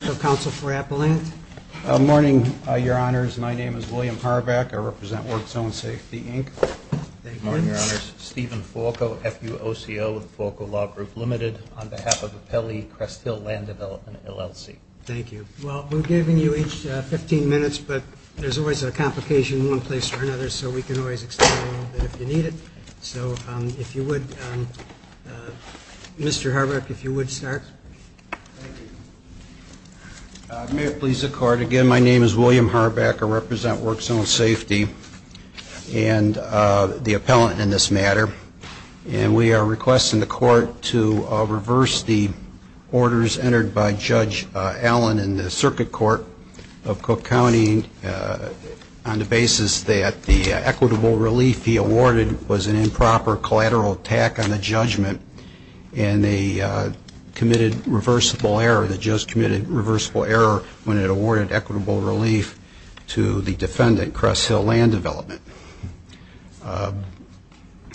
Good morning, Your Honors. My name is William Harbeck. I represent Work Zone Safety, Inc. Good morning, Your Honors. Stephen Falco, FUOCO, Falco Law Group, Ltd. on behalf of the Pele Crest Hill Land Development, LLC. Thank you. Well, we've given you each 15 minutes, but there's always a complication in one place or another, so we can always extend it a little bit if you need it. So, if you would, Mr. Harbeck, if you would start. May it please the Court. Again, my name is William Harbeck. I represent Work Zone Safety and the appellant in this matter. And we are requesting the Court to reverse the orders entered by Judge Allen in the Circuit Court of Cook County on the basis that the equitable relief he awarded was an improper collateral attack on the judgment and they committed reversible error. The judge committed reversible error when it awarded equitable relief to the defendant, Crest Hill Land Development.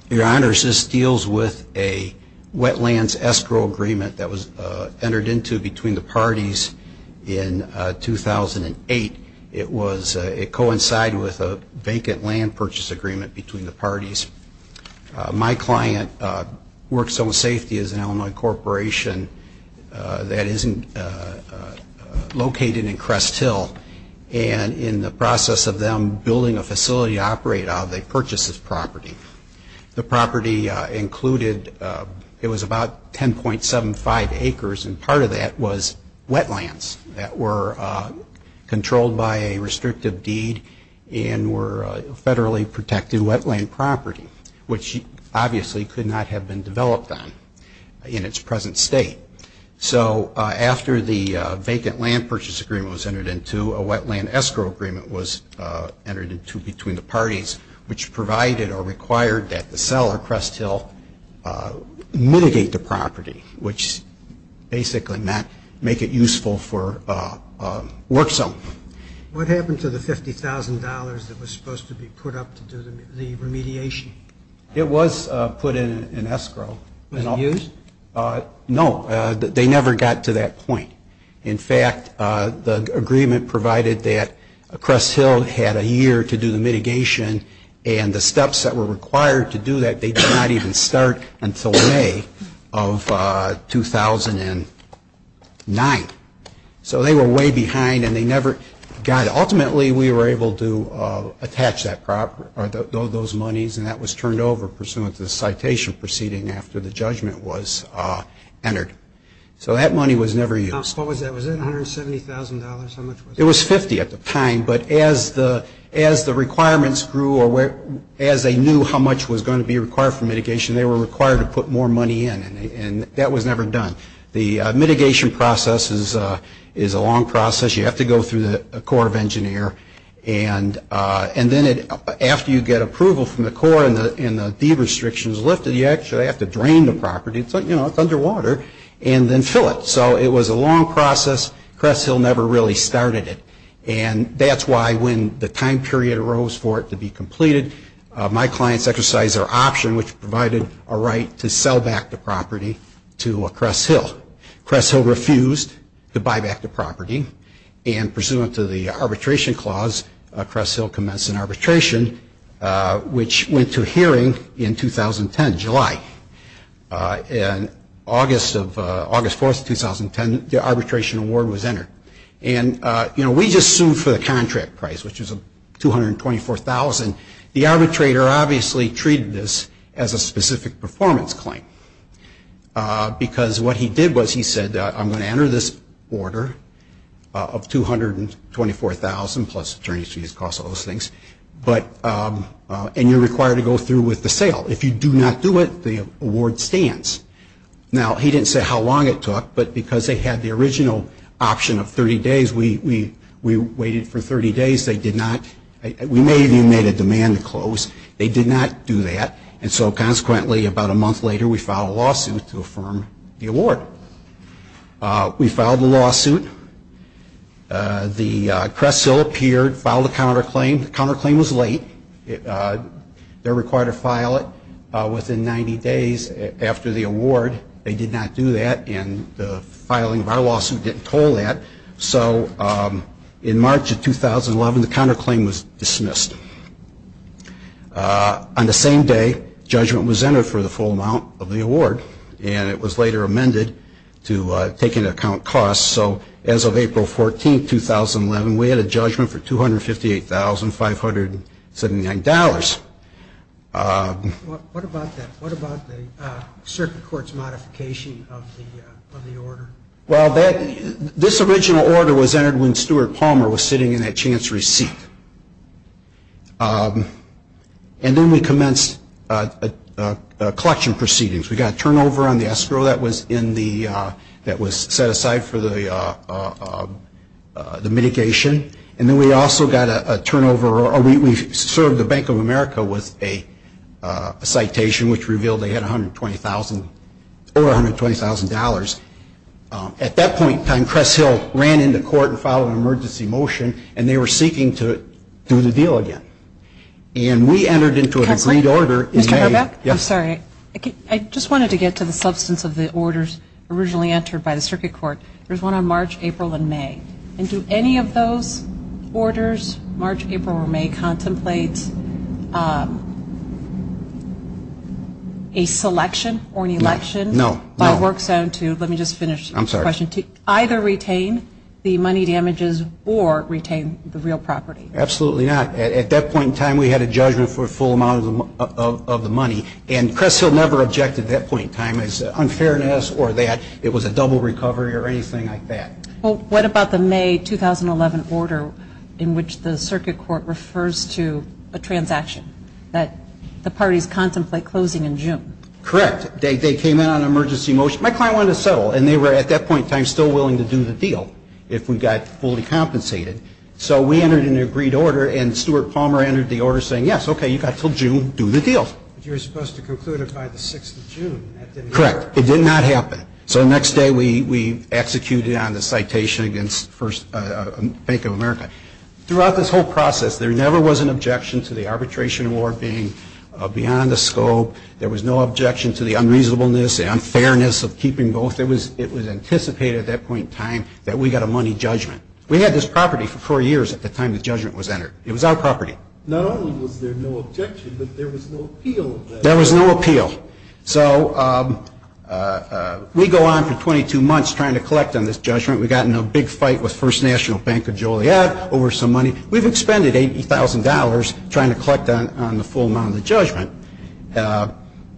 Your Honors, this deals with a wetlands escrow agreement that was entered into between the parties in 2008. It coincided with a vacant land purchase agreement between the parties. My client, Work Zone Safety, is an Illinois corporation that is located in Crest Hill. And in the process of them building a facility to operate out of, they purchased this property. The property included, it was about 10.75 acres, and part of that was wetlands that were controlled by a restrictive deed and were federally protected wetland property, which obviously could not have been developed on in its present state. So, after the vacant land purchase agreement was entered into, a wetland escrow agreement was entered into between the parties, which provided or required that the seller, Crest Hill, mitigate the property, which basically meant make it useful for Work Zone. What happened to the $50,000 that was supposed to be put up to do the remediation? It was put in escrow. Was it used? No. They never got to that point. In fact, the agreement provided that Crest Hill had a year to do the mitigation, and the steps that were required to do that, they did not even start until May of 2009. So, they were way behind, and they never got it. Ultimately, we were able to attach that property, or those monies, and that was turned over pursuant to the citation proceeding after the judgment was entered. So, that money was never used. Was it $170,000? It was $50,000 at the time, but as the requirements grew or as they knew how much was going to be required for mitigation, they were required to put more money in, and that was never done. The mitigation process is a long process. You have to go through the Corps of Engineers, and then after you get approval from the Corps and the deed restrictions lifted, you actually have to drain the property, you know, it's underwater, and then fill it. So, it was a long process. Crest Hill never really started it, and that's why when the time period arose for it to be completed, my clients exercised their option, which provided a right to sell back the property to Crest Hill. Crest Hill refused to buy back the property, and pursuant to the arbitration clause, Crest Hill commenced an arbitration, which went to hearing in 2010, July. And August 4, 2010, the arbitration award was entered. And, you know, we just sued for the contract price, which was $224,000. The arbitrator obviously treated this as a specific performance claim, because what he did was he said, I'm going to enter this order of $224,000 plus attorney's fees, costs, all those things, and you're required to go through with the sale. If you do not do it, the award stands. Now, he didn't say how long it took, but because they had the original option of 30 days, we waited for 30 days. They did not, we may have even made a demand to close. They did not do that, and so consequently, about a month later, we filed a lawsuit to affirm the award. We filed the lawsuit. The Crest Hill appeared, filed a counterclaim. The counterclaim was late. They're required to file it within 90 days after the award. They did not do that, and the filing of our lawsuit didn't call that. So in March of 2011, the counterclaim was dismissed. On the same day, judgment was entered for the full amount of the award, and it was later amended to take into account costs. So as of April 14, 2011, we had a judgment for $258,579. What about the circuit court's modification of the order? Well, this original order was entered when Stuart Palmer was sitting in that chancery seat, and then we commenced collection proceedings. We got a turnover on the escrow that was set aside for the mitigation, and then we also got a turnover, or we served the Bank of America with a citation, which revealed they had over $120,000. At that point in time, Crest Hill ran into court and filed an emergency motion, and they were seeking to do the deal again. And we entered into an agreed order in May. Mr. Herbeck? I'm sorry. I just wanted to get to the substance of the orders originally entered by the circuit court. There's one on March, April, and May. And do any of those orders, March, April, or May, contemplate a selection or an election by a work zone to either retain the money damages or retain the real property? Absolutely not. At that point in time, we had a judgment for a full amount of the money, and Crest Hill never objected at that point in time as to unfairness or that it was a double recovery or anything like that. Well, what about the May 2011 order in which the circuit court refers to a transaction that the parties contemplate closing in June? Correct. They came in on an emergency motion. My client wanted to settle, and they were, at that point in time, still willing to do the deal if we got fully compensated. So we entered an agreed order, and Stuart Palmer entered the order saying, yes, okay, you've got until June, do the deal. But you were supposed to conclude it by the 6th of June, and that didn't occur. Correct. It did not happen. So the next day we executed on the citation against Bank of America. Throughout this whole process, there never was an objection to the arbitration award being beyond the scope. There was no objection to the unreasonableness, the unfairness of keeping both. It was anticipated at that point in time that we got a money judgment. We had this property for four years at the time the judgment was entered. It was our property. Not only was there no objection, but there was no appeal. There was no appeal. So we go on for 22 months trying to collect on this judgment. We got in a big fight with First National Bank of Joliet over some money. We've expended $80,000 trying to collect on the full amount of the judgment.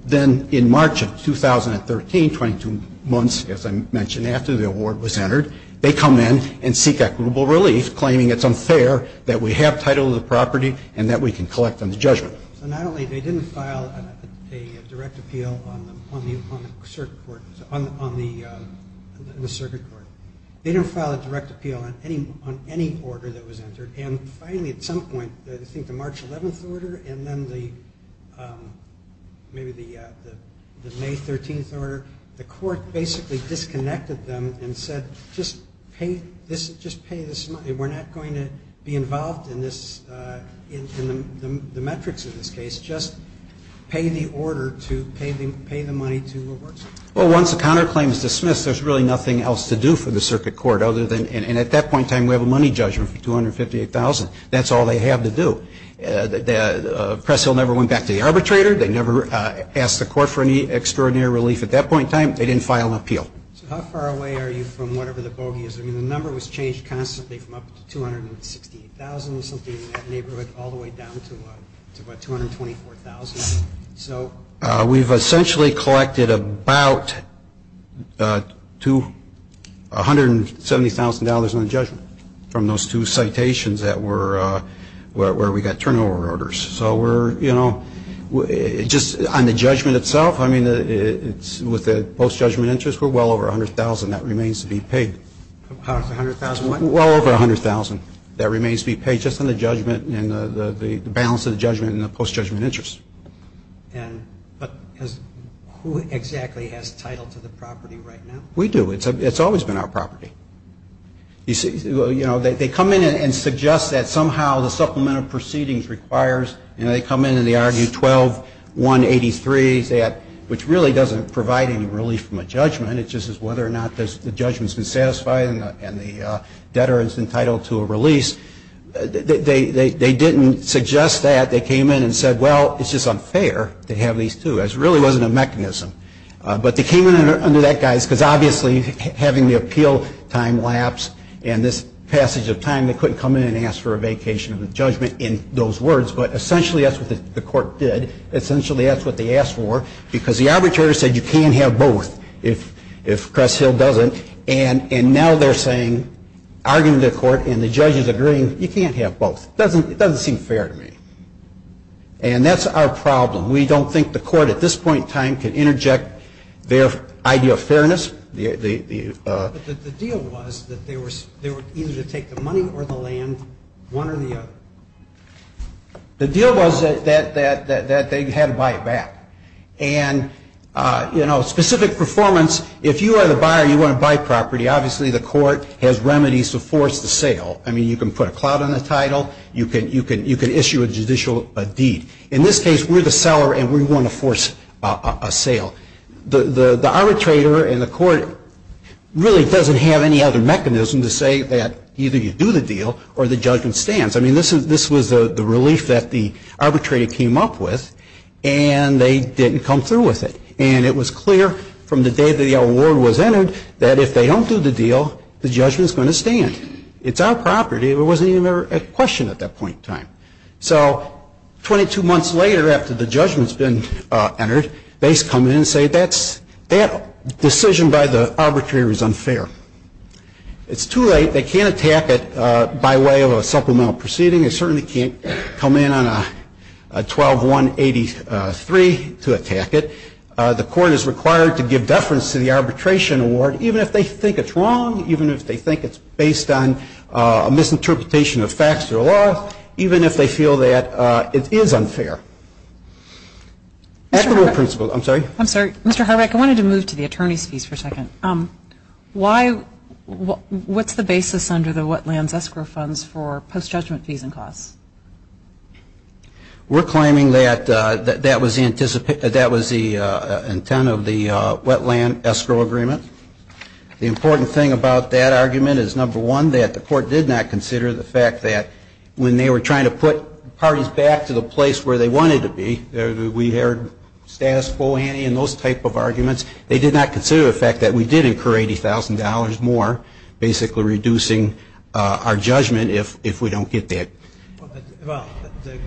Then in March of 2013, 22 months, as I mentioned, after the award was entered, they come in and seek equitable relief, claiming it's unfair that we have title of the property and that we can collect on the judgment. So not only they didn't file a direct appeal on the circuit court, they didn't file a direct appeal on any order that was entered. Finally, at some point, I think the March 11th order and then maybe the May 13th order, the court basically disconnected them and said, Well, once the counterclaim is dismissed, there's really nothing else to do for the circuit court other than and at that point in time, we have a money judgment for $258,000. That's all they have to do. Press Hill never went back to the arbitrator. They never asked the court for any extraordinary relief at that point in time. They didn't file an appeal. Well, it looks like it's pretty close. The number was changed constantly from up to $268,000, something in that neighborhood, all the way down to about $224,000. So we've essentially collected about $170,000 on the judgment from those two citations where we got turnover orders. So just on the judgment itself, with the post-judgment interest, we're well over $100,000. That remains to be paid. About $100,000? Well over $100,000. That remains to be paid just on the judgment and the balance of the judgment and the post-judgment interest. But who exactly has title to the property right now? We do. It's always been our property. They come in and suggest that somehow the supplemental proceedings requires, and they come in and they argue 12-183, which really doesn't provide any relief from a judgment. It's just whether or not the judgment's been satisfied and the debtor is entitled to a release. They didn't suggest that. They came in and said, well, it's just unfair to have these two. It really wasn't a mechanism. But they came in under that guise because obviously having the appeal time lapse and this passage of time they couldn't come in and ask for a vacation of the judgment in those words. But essentially that's what the court did. Essentially that's what they asked for because the arbitrator said you can't have both. If Cress Hill doesn't. And now they're saying, arguing to the court and the judges agreeing, you can't have both. It doesn't seem fair to me. And that's our problem. We don't think the court at this point in time can interject their idea of fairness. But the deal was that they were either to take the money or the land, one or the other. The deal was that they had to buy it back. And, you know, specific performance, if you are the buyer and you want to buy property, obviously the court has remedies to force the sale. I mean, you can put a cloud on the title. You can issue a judicial deed. In this case, we're the seller and we want to force a sale. The arbitrator and the court really doesn't have any other mechanism to say that either you do the deal or the judgment stands. I mean, this was the relief that the arbitrator came up with. And they didn't come through with it. And it was clear from the day that the award was entered that if they don't do the deal, the judgment's going to stand. It's our property. It wasn't even a question at that point in time. So 22 months later after the judgment's been entered, they come in and say that decision by the arbitrator is unfair. It's too late. They can't attack it by way of a supplemental proceeding. They certainly can't come in on a 12-1-83 to attack it. The court is required to give deference to the arbitration award, even if they think it's wrong, even if they think it's based on a misinterpretation of facts or laws, even if they feel that it is unfair. Actable principles. I'm sorry? I'm sorry. Mr. Horvath, I wanted to move to the attorney's fees for a second. Why? What's the basis under the wetlands escrow funds for post-judgment fees and costs? We're claiming that that was the intent of the wetland escrow agreement. The important thing about that argument is, number one, that the court did not consider the fact that when they were trying to put parties back to the place where they wanted to be, we heard status quo ante and those type of arguments. They did not consider the fact that we did incur $80,000 more, basically reducing our judgment if we don't get that. Well, the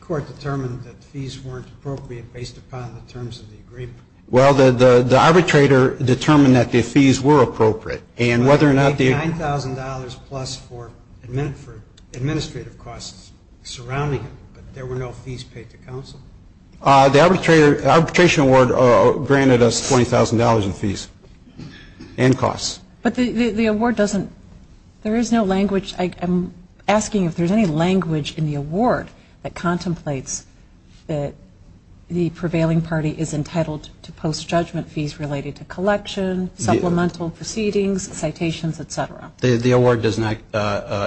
court determined that fees weren't appropriate based upon the terms of the agreement. Well, the arbitrator determined that the fees were appropriate. $9,000 plus for administrative costs surrounding it, but there were no fees paid to counsel? The arbitration award granted us $20,000 in fees and costs. But the award doesn't, there is no language, I'm asking if there's any language in the award that contemplates that the prevailing party is entitled to post-judgment fees related to collection, supplemental proceedings, citations, et cetera. The award does not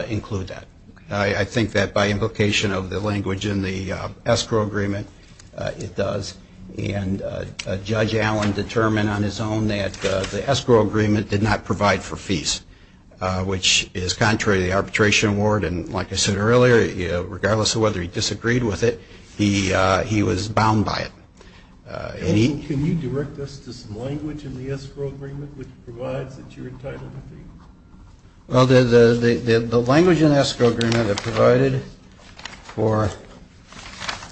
include that. I think that by implication of the language in the escrow agreement, it does. And Judge Allen determined on his own that the escrow agreement did not provide for fees, which is contrary to the arbitration award. And like I said earlier, regardless of whether he disagreed with it, he was bound by it. Counsel, can you direct us to some language in the escrow agreement which provides that you're entitled to fees? Well, the language in the escrow agreement that provided for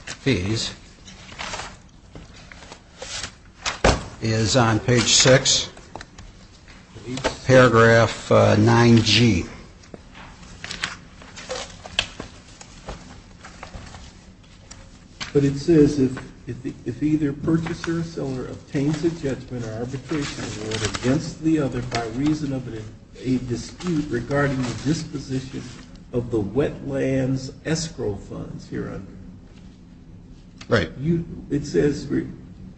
fees is on page 6, paragraph 9G. But it says if either purchaser or seller obtains a judgment or arbitration award against the other by reason of a dispute regarding the disposition of the wetlands escrow funds here under it. Right. It says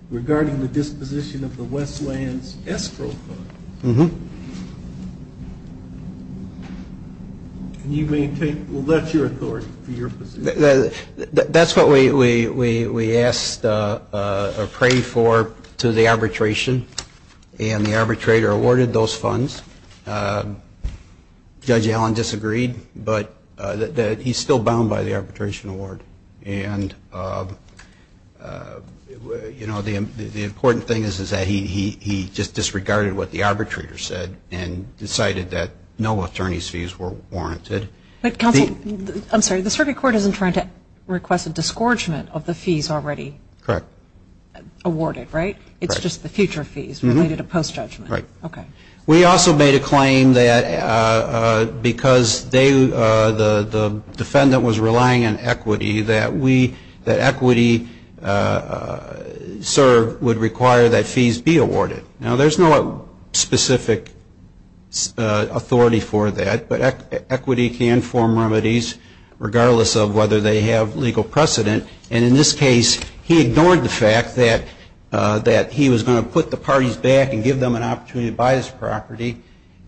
regarding the disposition of the wetlands escrow funds. Mm-hmm. Well, that's your authority for your position. That's what we asked or prayed for to the arbitration. And the arbitrator awarded those funds. Judge Allen disagreed, but he's still bound by the arbitration award. And, you know, the important thing is that he just disregarded what the arbitrator said and decided that no attorney's fees were warranted. Counsel, I'm sorry, the circuit court isn't trying to request a disgorgement of the fees already? Correct. Awarded, right? It's just the future fees related to post-judgment. Right. Okay. We also made a claim that because the defendant was relying on equity, that equity served would require that fees be awarded. Now, there's no specific authority for that, but equity can form remedies regardless of whether they have legal precedent. And in this case, he ignored the fact that he was going to put the parties back and give them an opportunity to buy this property,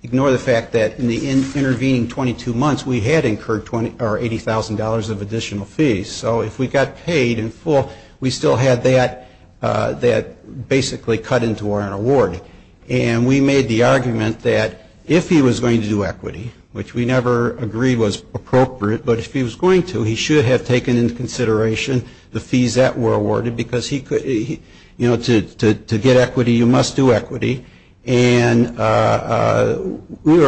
ignore the fact that in the intervening 22 months we had incurred $80,000 of additional fees. So if we got paid in full, we still had that basically cut into our award. And we made the argument that if he was going to do equity, which we never agreed was appropriate, but if he was going to, he should have taken into consideration the fees that were awarded because he could, you know, to get equity, you must do equity. And we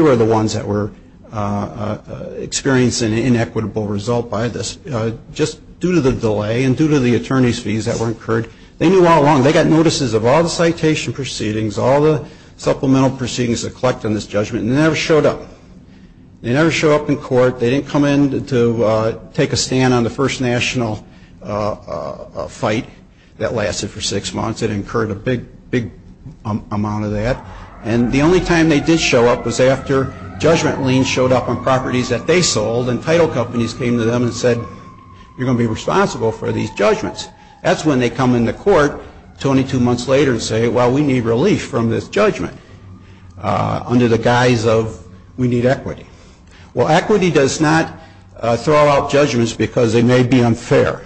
were the ones that were experiencing an inequitable result by this. Just due to the delay and due to the attorney's fees that were incurred, they knew all along, they got notices of all the citation proceedings, all the supplemental proceedings to collect on this judgment, and they never showed up. They never showed up in court. They didn't come in to take a stand on the first national fight that lasted for six months. It incurred a big, big amount of that. And the only time they did show up was after judgment liens showed up on properties that they sold and title companies came to them and said, you're going to be responsible for these judgments. That's when they come into court 22 months later and say, well, we need relief from this judgment. Under the guise of we need equity. Well, equity does not throw out judgments because they may be unfair.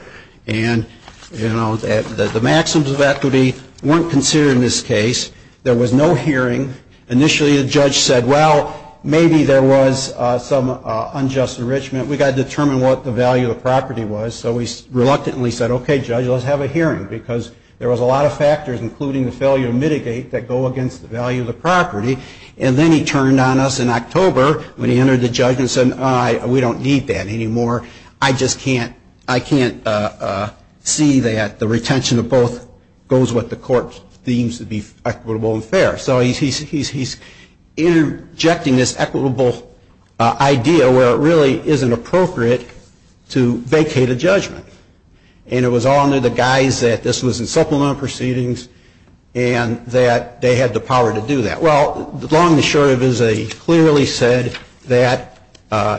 And, you know, the maxims of equity weren't considered in this case. There was no hearing. Initially the judge said, well, maybe there was some unjust enrichment. We've got to determine what the value of the property was. So he reluctantly said, okay, judge, let's have a hearing because there was a lot of factors, including the failure to mitigate, that go against the value of the property. And then he turned on us in October when he entered the judgment and said, we don't need that anymore. I just can't see that the retention of both goes what the court deems to be equitable and fair. So he's interjecting this equitable idea where it really isn't appropriate to vacate a judgment. And it was all under the guise that this was in supplemental proceedings and that they had the power to do that. Well, the long and short of it is he clearly said that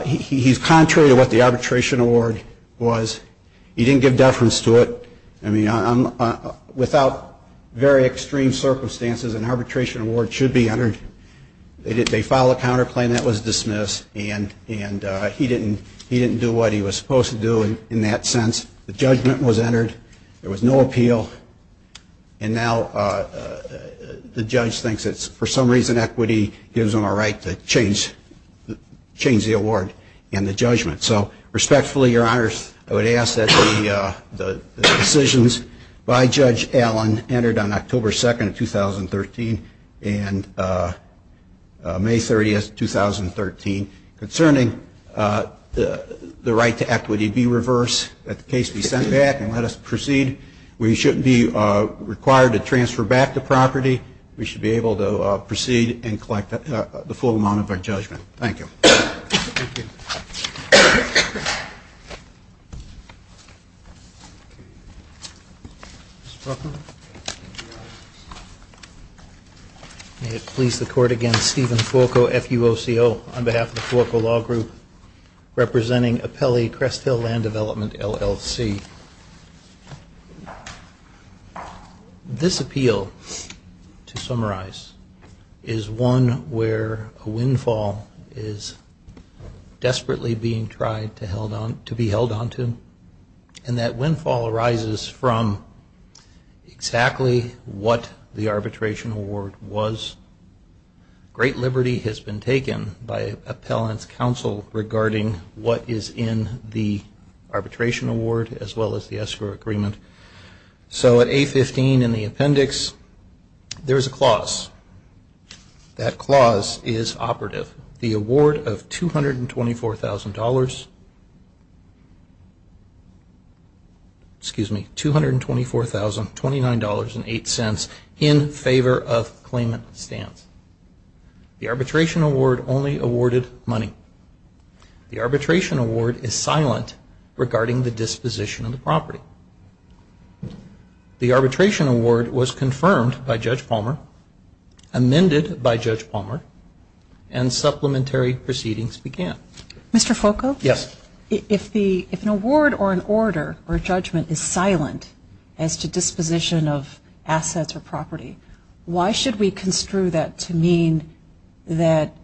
he's contrary to what the arbitration award was. He didn't give deference to it. I mean, without very extreme circumstances, an arbitration award should be entered. They filed a counterclaim. That was dismissed. And he didn't do what he was supposed to do in that sense. The judgment was entered. There was no appeal. And now the judge thinks that for some reason equity gives them a right to change the award and the judgment. So respectfully, Your Honors, I would ask that the decisions by Judge Allen entered on October 2nd of 2013 and May 30th, 2013, concerning the right to equity be reversed, that the case be sent back, and let us proceed. We shouldn't be required to transfer back the property. We should be able to proceed and collect the full amount of our judgment. Thank you. Thank you. May it please the Court again, Stephen Fuoco, F-U-O-C-O, on behalf of the Fuoco Law Group, representing Apelli Crest Hill Land Development, LLC. This appeal, to summarize, is one where a windfall is desperately being tried to be held onto. And that windfall arises from exactly what the arbitration award was. Great liberty has been taken by appellant's counsel regarding what is in the arbitration award, as well as the escrow agreement. So at A-15 in the appendix, there is a clause. That clause is operative. The award of $224,000, excuse me, $224,029.08 in favor of the claimant stands. The arbitration award only awarded money. The arbitration award is silent regarding the disposition of the property. The arbitration award was confirmed by Judge Palmer, amended by Judge Palmer, and supplementary proceedings began. Mr. Fuoco? Yes. If an award or an order or a judgment is silent as to disposition of assets or property, why should we construe that to mean that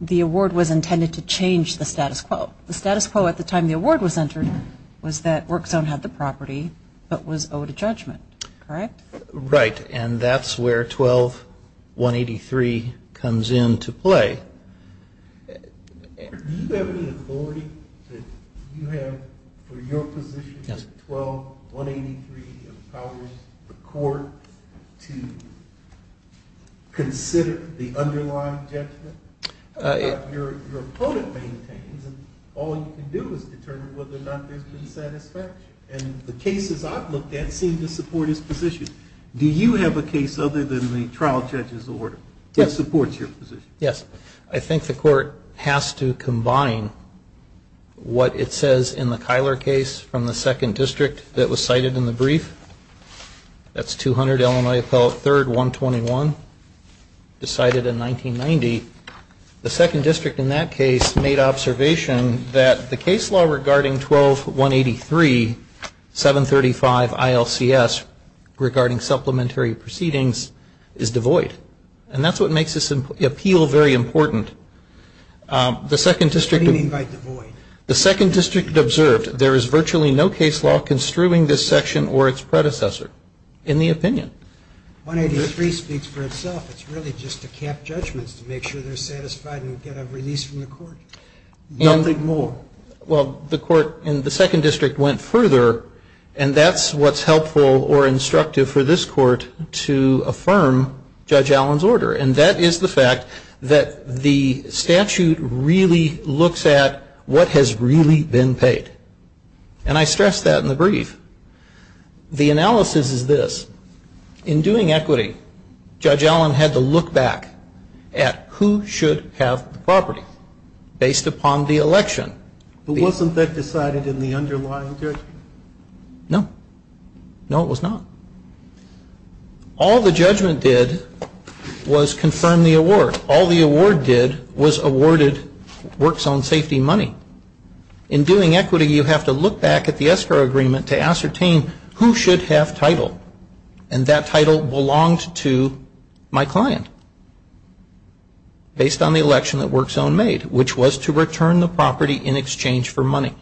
the award was intended to change the status quo? The status quo at the time the award was entered was that Work Zone had the property, but was owed a judgment. Correct? Right. And that's where 12-183 comes into play. Do you have any authority that you have for your position that 12-183 empowers the court to consider the underlying judgment that your opponent maintains, and all you can do is determine whether or not there's been satisfaction? And the cases I've looked at seem to support his position. Do you have a case other than the trial judge's order that supports your position? Yes. I think the court has to combine what it says in the Kyler case from the second district that was cited in the brief. That's 200 Illinois Appellate 3rd, 121, decided in 1990. The second district in that case made observation that the case law regarding 12-183, 735 ILCS, regarding supplementary proceedings, is devoid. And that's what makes this appeal very important. What do you mean by devoid? The second district observed there is virtually no case law construing this section or its predecessor in the opinion. 183 speaks for itself. It's really just to cap judgments to make sure they're satisfied and get a release from the court. Nothing more. Well, the court in the second district went further, and that's what's helpful or instructive for this court to affirm Judge Allen's order. And that is the fact that the statute really looks at what has really been paid. And I stress that in the brief. The analysis is this. In doing equity, Judge Allen had to look back at who should have the property based upon the election. But wasn't that decided in the underlying judgment? No. No, it was not. All the judgment did was confirm the award. All the award did was awarded work zone safety money. In doing equity, you have to look back at the escrow agreement to ascertain who should have title. And that title belonged to my client based on the election that work zone made, which was to return the property in exchange for money.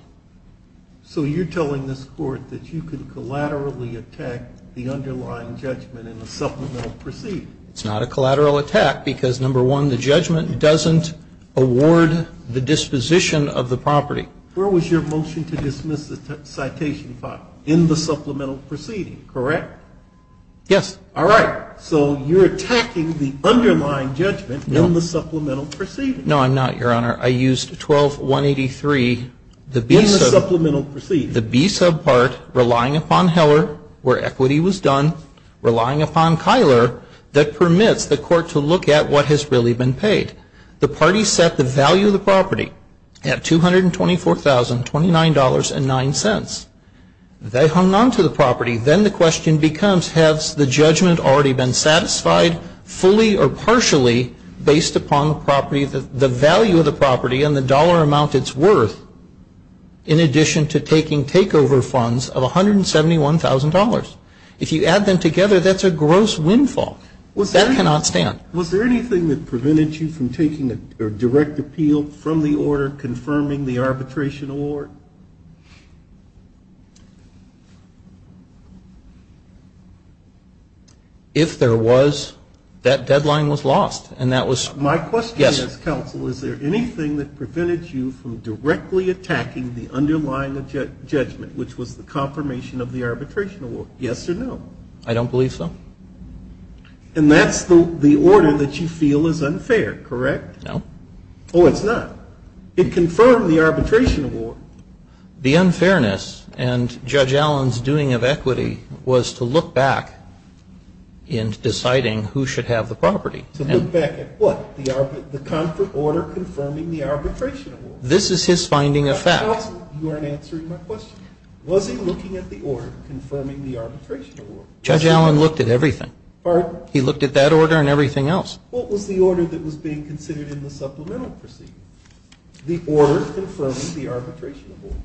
So you're telling this court that you can collaterally attack the underlying judgment in the supplemental proceeding? It's not a collateral attack because, number one, the judgment doesn't award the disposition of the property. Where was your motion to dismiss the citation file? In the supplemental proceeding, correct? Yes. All right. So you're attacking the underlying judgment in the supplemental proceeding. No, I'm not, Your Honor. I used 12183, the B sub. In the supplemental proceeding. The B sub part, relying upon Heller, where equity was done, relying upon Kyler, that permits the court to look at what has really been paid. The party set the value of the property at $224,029.09. They hung on to the property. Then the question becomes, has the judgment already been satisfied fully or partially based upon the property, the value of the property and the dollar amount it's worth, in addition to taking takeover funds of $171,000? If you add them together, that's a gross windfall. That cannot stand. Was there anything that prevented you from taking a direct appeal from the order confirming the arbitration award? If there was, that deadline was lost, and that was yes. My question is, counsel, is there anything that prevented you from directly attacking the underlying judgment, which was the confirmation of the arbitration award, yes or no? I don't believe so. And that's the order that you feel is unfair, correct? No. Oh, it's not. It confirmed the arbitration award. The unfairness and Judge Allen's doing of equity was to look back in deciding who should have the property. To look back at what? The order confirming the arbitration award? This is his finding of fact. You aren't answering my question. Was he looking at the order confirming the arbitration award? Judge Allen looked at everything. He looked at that order and everything else. What was the order that was being considered in the supplemental proceeding? The order confirming the arbitration award.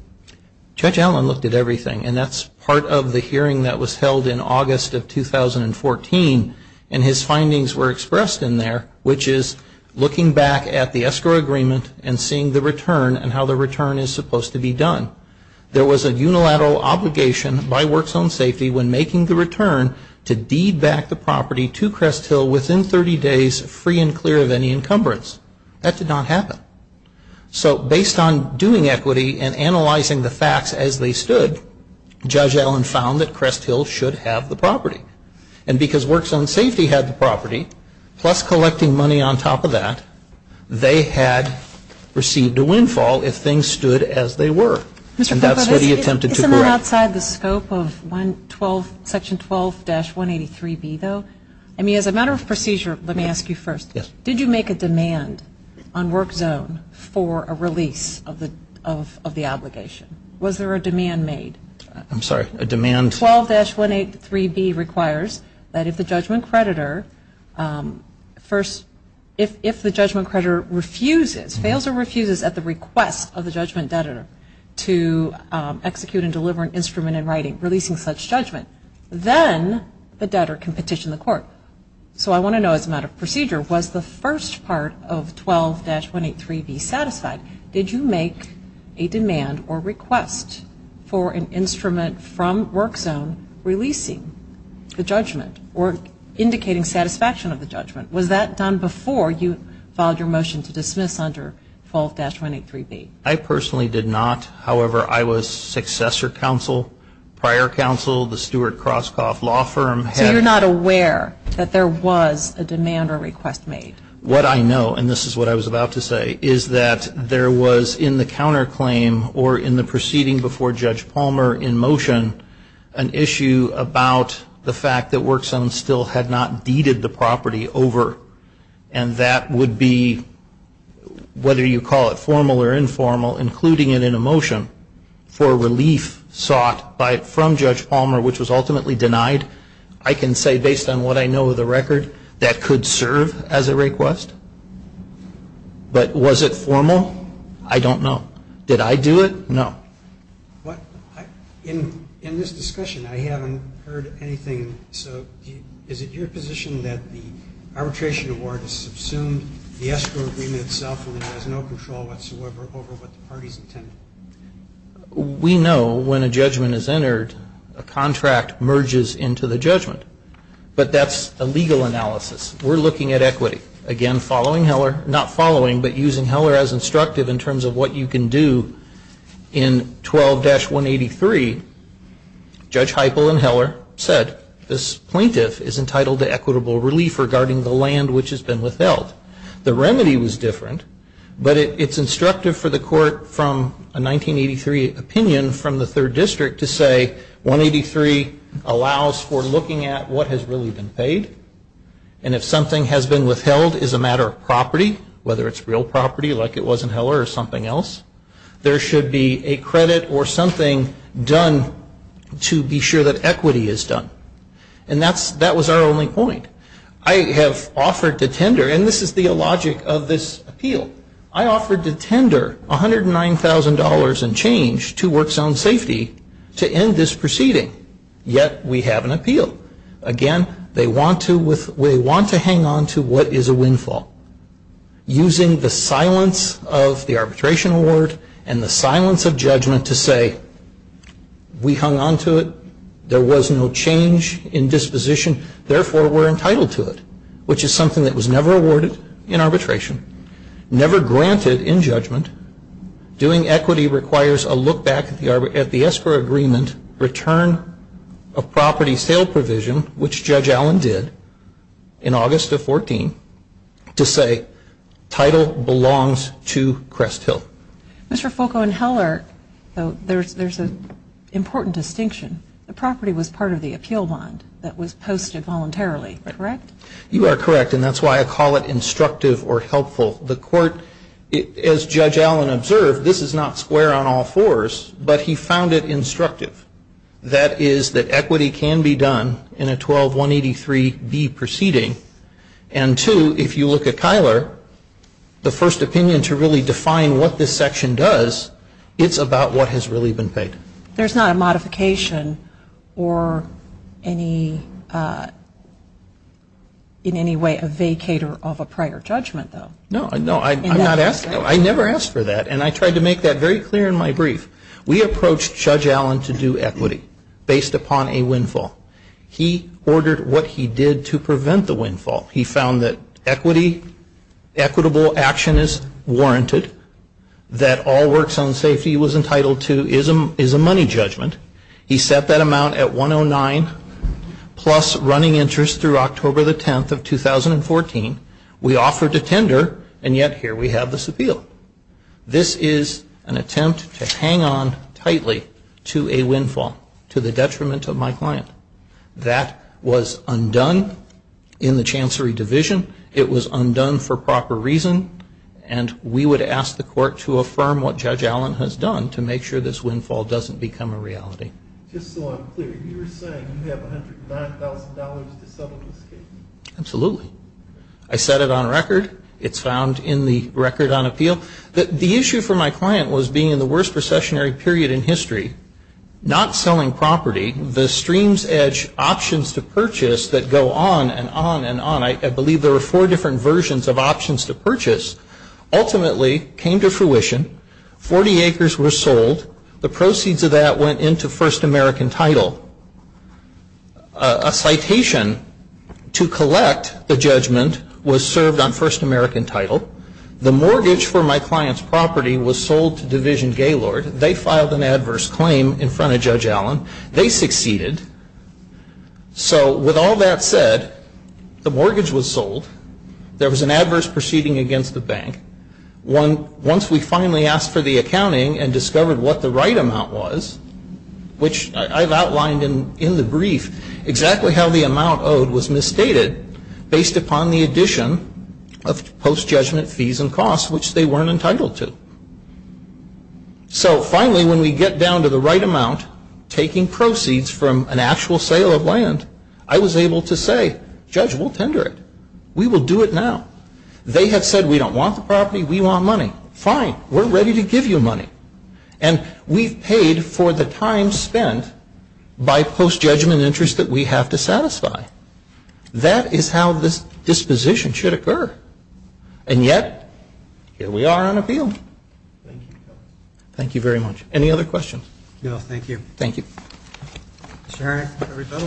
Judge Allen looked at everything, and that's part of the hearing that was held in August of 2014, and his findings were expressed in there, which is looking back at the escrow agreement and seeing the return and how the return is supposed to be done. There was a unilateral obligation by Work Zone Safety when making the return to deed back the property to Crest Hill within 30 days free and clear of any encumbrance. That did not happen. So based on doing equity and analyzing the facts as they stood, Judge Allen found that Crest Hill should have the property. And because Work Zone Safety had the property, plus collecting money on top of that, they had received a windfall if things stood as they were. And that's what he attempted to correct. Isn't that outside the scope of Section 12-183B, though? I mean, as a matter of procedure, let me ask you first. Did you make a demand on Work Zone for a release of the obligation? Was there a demand made? I'm sorry, a demand? Section 12-183B requires that if the judgment creditor refuses, fails or refuses at the request of the judgment debtor to execute and deliver an instrument in writing releasing such judgment, then the debtor can petition the court. So I want to know as a matter of procedure, was the first part of 12-183B satisfied? Did you make a demand or request for an instrument from Work Zone releasing the judgment or indicating satisfaction of the judgment? Was that done before you filed your motion to dismiss under 12-183B? I personally did not. However, I was successor counsel, prior counsel. The Stuart Kroskoff Law Firm had. So you're not aware that there was a demand or request made? What I know, and this is what I was about to say, is that there was in the counterclaim or in the proceeding before Judge Palmer in motion, an issue about the fact that Work Zone still had not deeded the property over. And that would be, whether you call it formal or informal, including it in a motion, for relief sought from Judge Palmer, which was ultimately denied. I can say, based on what I know of the record, that could serve as a request. But was it formal? I don't know. Did I do it? No. In this discussion, I haven't heard anything. So is it your position that the arbitration award has subsumed the escrow agreement itself and it has no control whatsoever over what the party's intended? We know when a judgment is entered, a contract merges into the judgment. But that's a legal analysis. We're looking at equity. Again, following Heller, not following, but using Heller as instructive in terms of what you can do, in 12-183, Judge Heiple and Heller said, this plaintiff is entitled to equitable relief regarding the land which has been withheld. The remedy was different. But it's instructive for the court from a 1983 opinion from the third district to say, 183 allows for looking at what has really been paid. And if something has been withheld as a matter of property, whether it's real property like it was in Heller or something else, there should be a credit or something done to be sure that equity is done. And that was our only point. I have offered to tender, and this is the logic of this appeal, I offered to tender $109,000 in change to Work Zone Safety to end this proceeding. Yet we have an appeal. Again, they want to hang on to what is a windfall. Using the silence of the arbitration award and the silence of judgment to say, we hung on to it, there was no change in disposition, therefore we're entitled to it, which is something that was never awarded in arbitration, never granted in judgment. Doing equity requires a look back at the ESPER agreement return of property sale provision, which Judge Allen did in August of 14, to say, title belongs to Crest Hill. Mr. Fulco and Heller, there's an important distinction. The property was part of the appeal bond that was posted voluntarily, correct? You are correct, and that's why I call it instructive or helpful. The court, as Judge Allen observed, this is not square on all fours, but he found it instructive. That is that equity can be done in a 12183B proceeding. And two, if you look at Kyler, the first opinion to really define what this section does, it's about what has really been paid. There's not a modification or in any way a vacater of a prior judgment, though. No, I never asked for that, and I tried to make that very clear in my brief. We approached Judge Allen to do equity based upon a windfall. He ordered what he did to prevent the windfall. He found that equitable action is warranted, that all works on safety was entitled to, which is a money judgment. He set that amount at 109 plus running interest through October the 10th of 2014. We offered a tender, and yet here we have this appeal. This is an attempt to hang on tightly to a windfall to the detriment of my client. That was undone in the Chancery Division. It was undone for proper reason, and we would ask the court to affirm what Judge Allen has done to make sure this windfall doesn't become a reality. Just so I'm clear, you were saying you have $109,000 to settle this case? Absolutely. I set it on record. It's found in the record on appeal. The issue for my client was being in the worst recessionary period in history, not selling property, the streams edge options to purchase that go on and on and on. I believe there were four different versions of options to purchase, ultimately came to fruition. Forty acres were sold. The proceeds of that went into First American Title. A citation to collect the judgment was served on First American Title. The mortgage for my client's property was sold to Division Gaylord. They filed an adverse claim in front of Judge Allen. They succeeded. So with all that said, the mortgage was sold. There was an adverse proceeding against the bank. Once we finally asked for the accounting and discovered what the right amount was, which I've outlined in the brief exactly how the amount owed was misstated based upon the addition of post-judgment fees and costs, which they weren't entitled to. So finally, when we get down to the right amount, taking proceeds from an actual sale of land, I was able to say, Judge, we'll tender it. We will do it now. They have said we don't want the property. We want money. Fine. We're ready to give you money. And we've paid for the time spent by post-judgment interest that we have to satisfy. That is how this disposition should occur. And yet, here we are on appeal. Thank you very much. Any other questions? No, thank you. Thank you. Mr. Herring, everybody?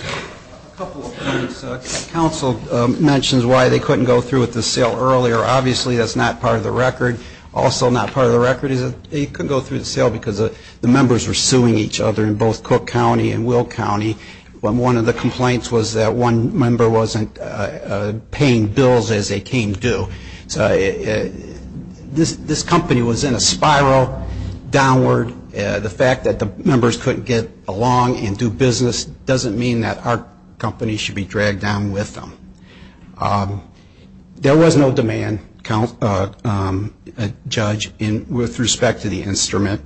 A couple of things. Council mentions why they couldn't go through with the sale earlier. Obviously, that's not part of the record. Also not part of the record is they couldn't go through the sale because the members were suing each other in both Cook County and Will County. One of the complaints was that one member wasn't paying bills as they came due. This company was in a spiral downward. The fact that the members couldn't get along and do business doesn't mean that our company should be dragged down with them. There was no demand, Judge, with respect to the instrument.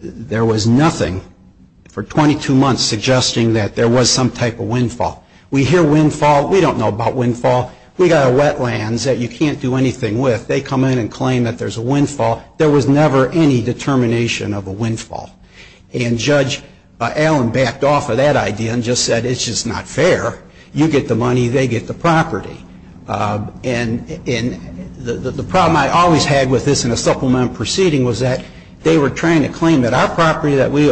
There was nothing for 22 months suggesting that there was some type of windfall. We hear windfall. We don't know about windfall. We've got a wetlands that you can't do anything with. They come in and claim that there's a windfall. There was never any determination of a windfall. And Judge Allen backed off of that idea and just said it's just not fair. You get the money. They get the property. And the problem I always had with this in a supplemental proceeding was that they were trying to claim that our property that we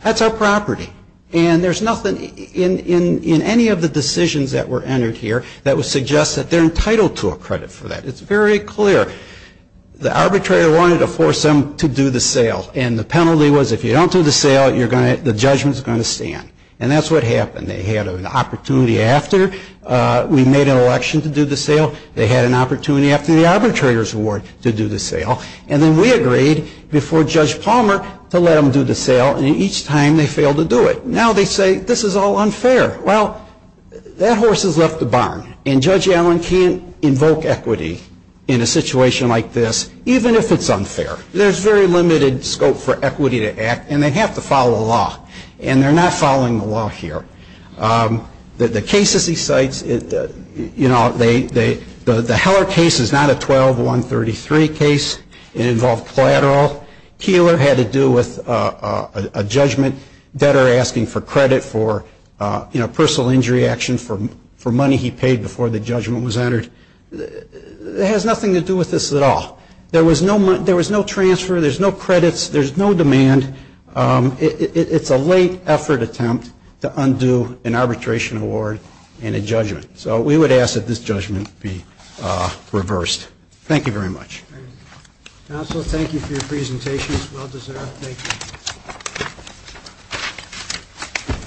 That's our property. And there's nothing in any of the decisions that were entered here that would suggest that they're entitled to a credit for that. It's very clear. The arbitrator wanted to force them to do the sale. And the penalty was if you don't do the sale, the judgment's going to stand. And that's what happened. They had an opportunity after we made an election to do the sale. They had an opportunity after the arbitrator's award to do the sale. And then we agreed before Judge Palmer to let them do the sale. And each time they failed to do it. Now they say this is all unfair. Well, that horse has left the barn. And Judge Allen can't invoke equity in a situation like this even if it's unfair. There's very limited scope for equity to act. And they have to follow the law. And they're not following the law here. The cases he cites, you know, the Heller case is not a 12-133 case. It involved collateral. Keillor had to do with a judgment. Debtor asking for credit for, you know, personal injury action for money he paid before the judgment was entered. It has nothing to do with this at all. There was no transfer. There's no credits. There's no demand. It's a late effort attempt to undo an arbitration award and a judgment. So we would ask that this judgment be reversed. Thank you very much. Counsel, thank you for your presentations. Well deserved. Thank you.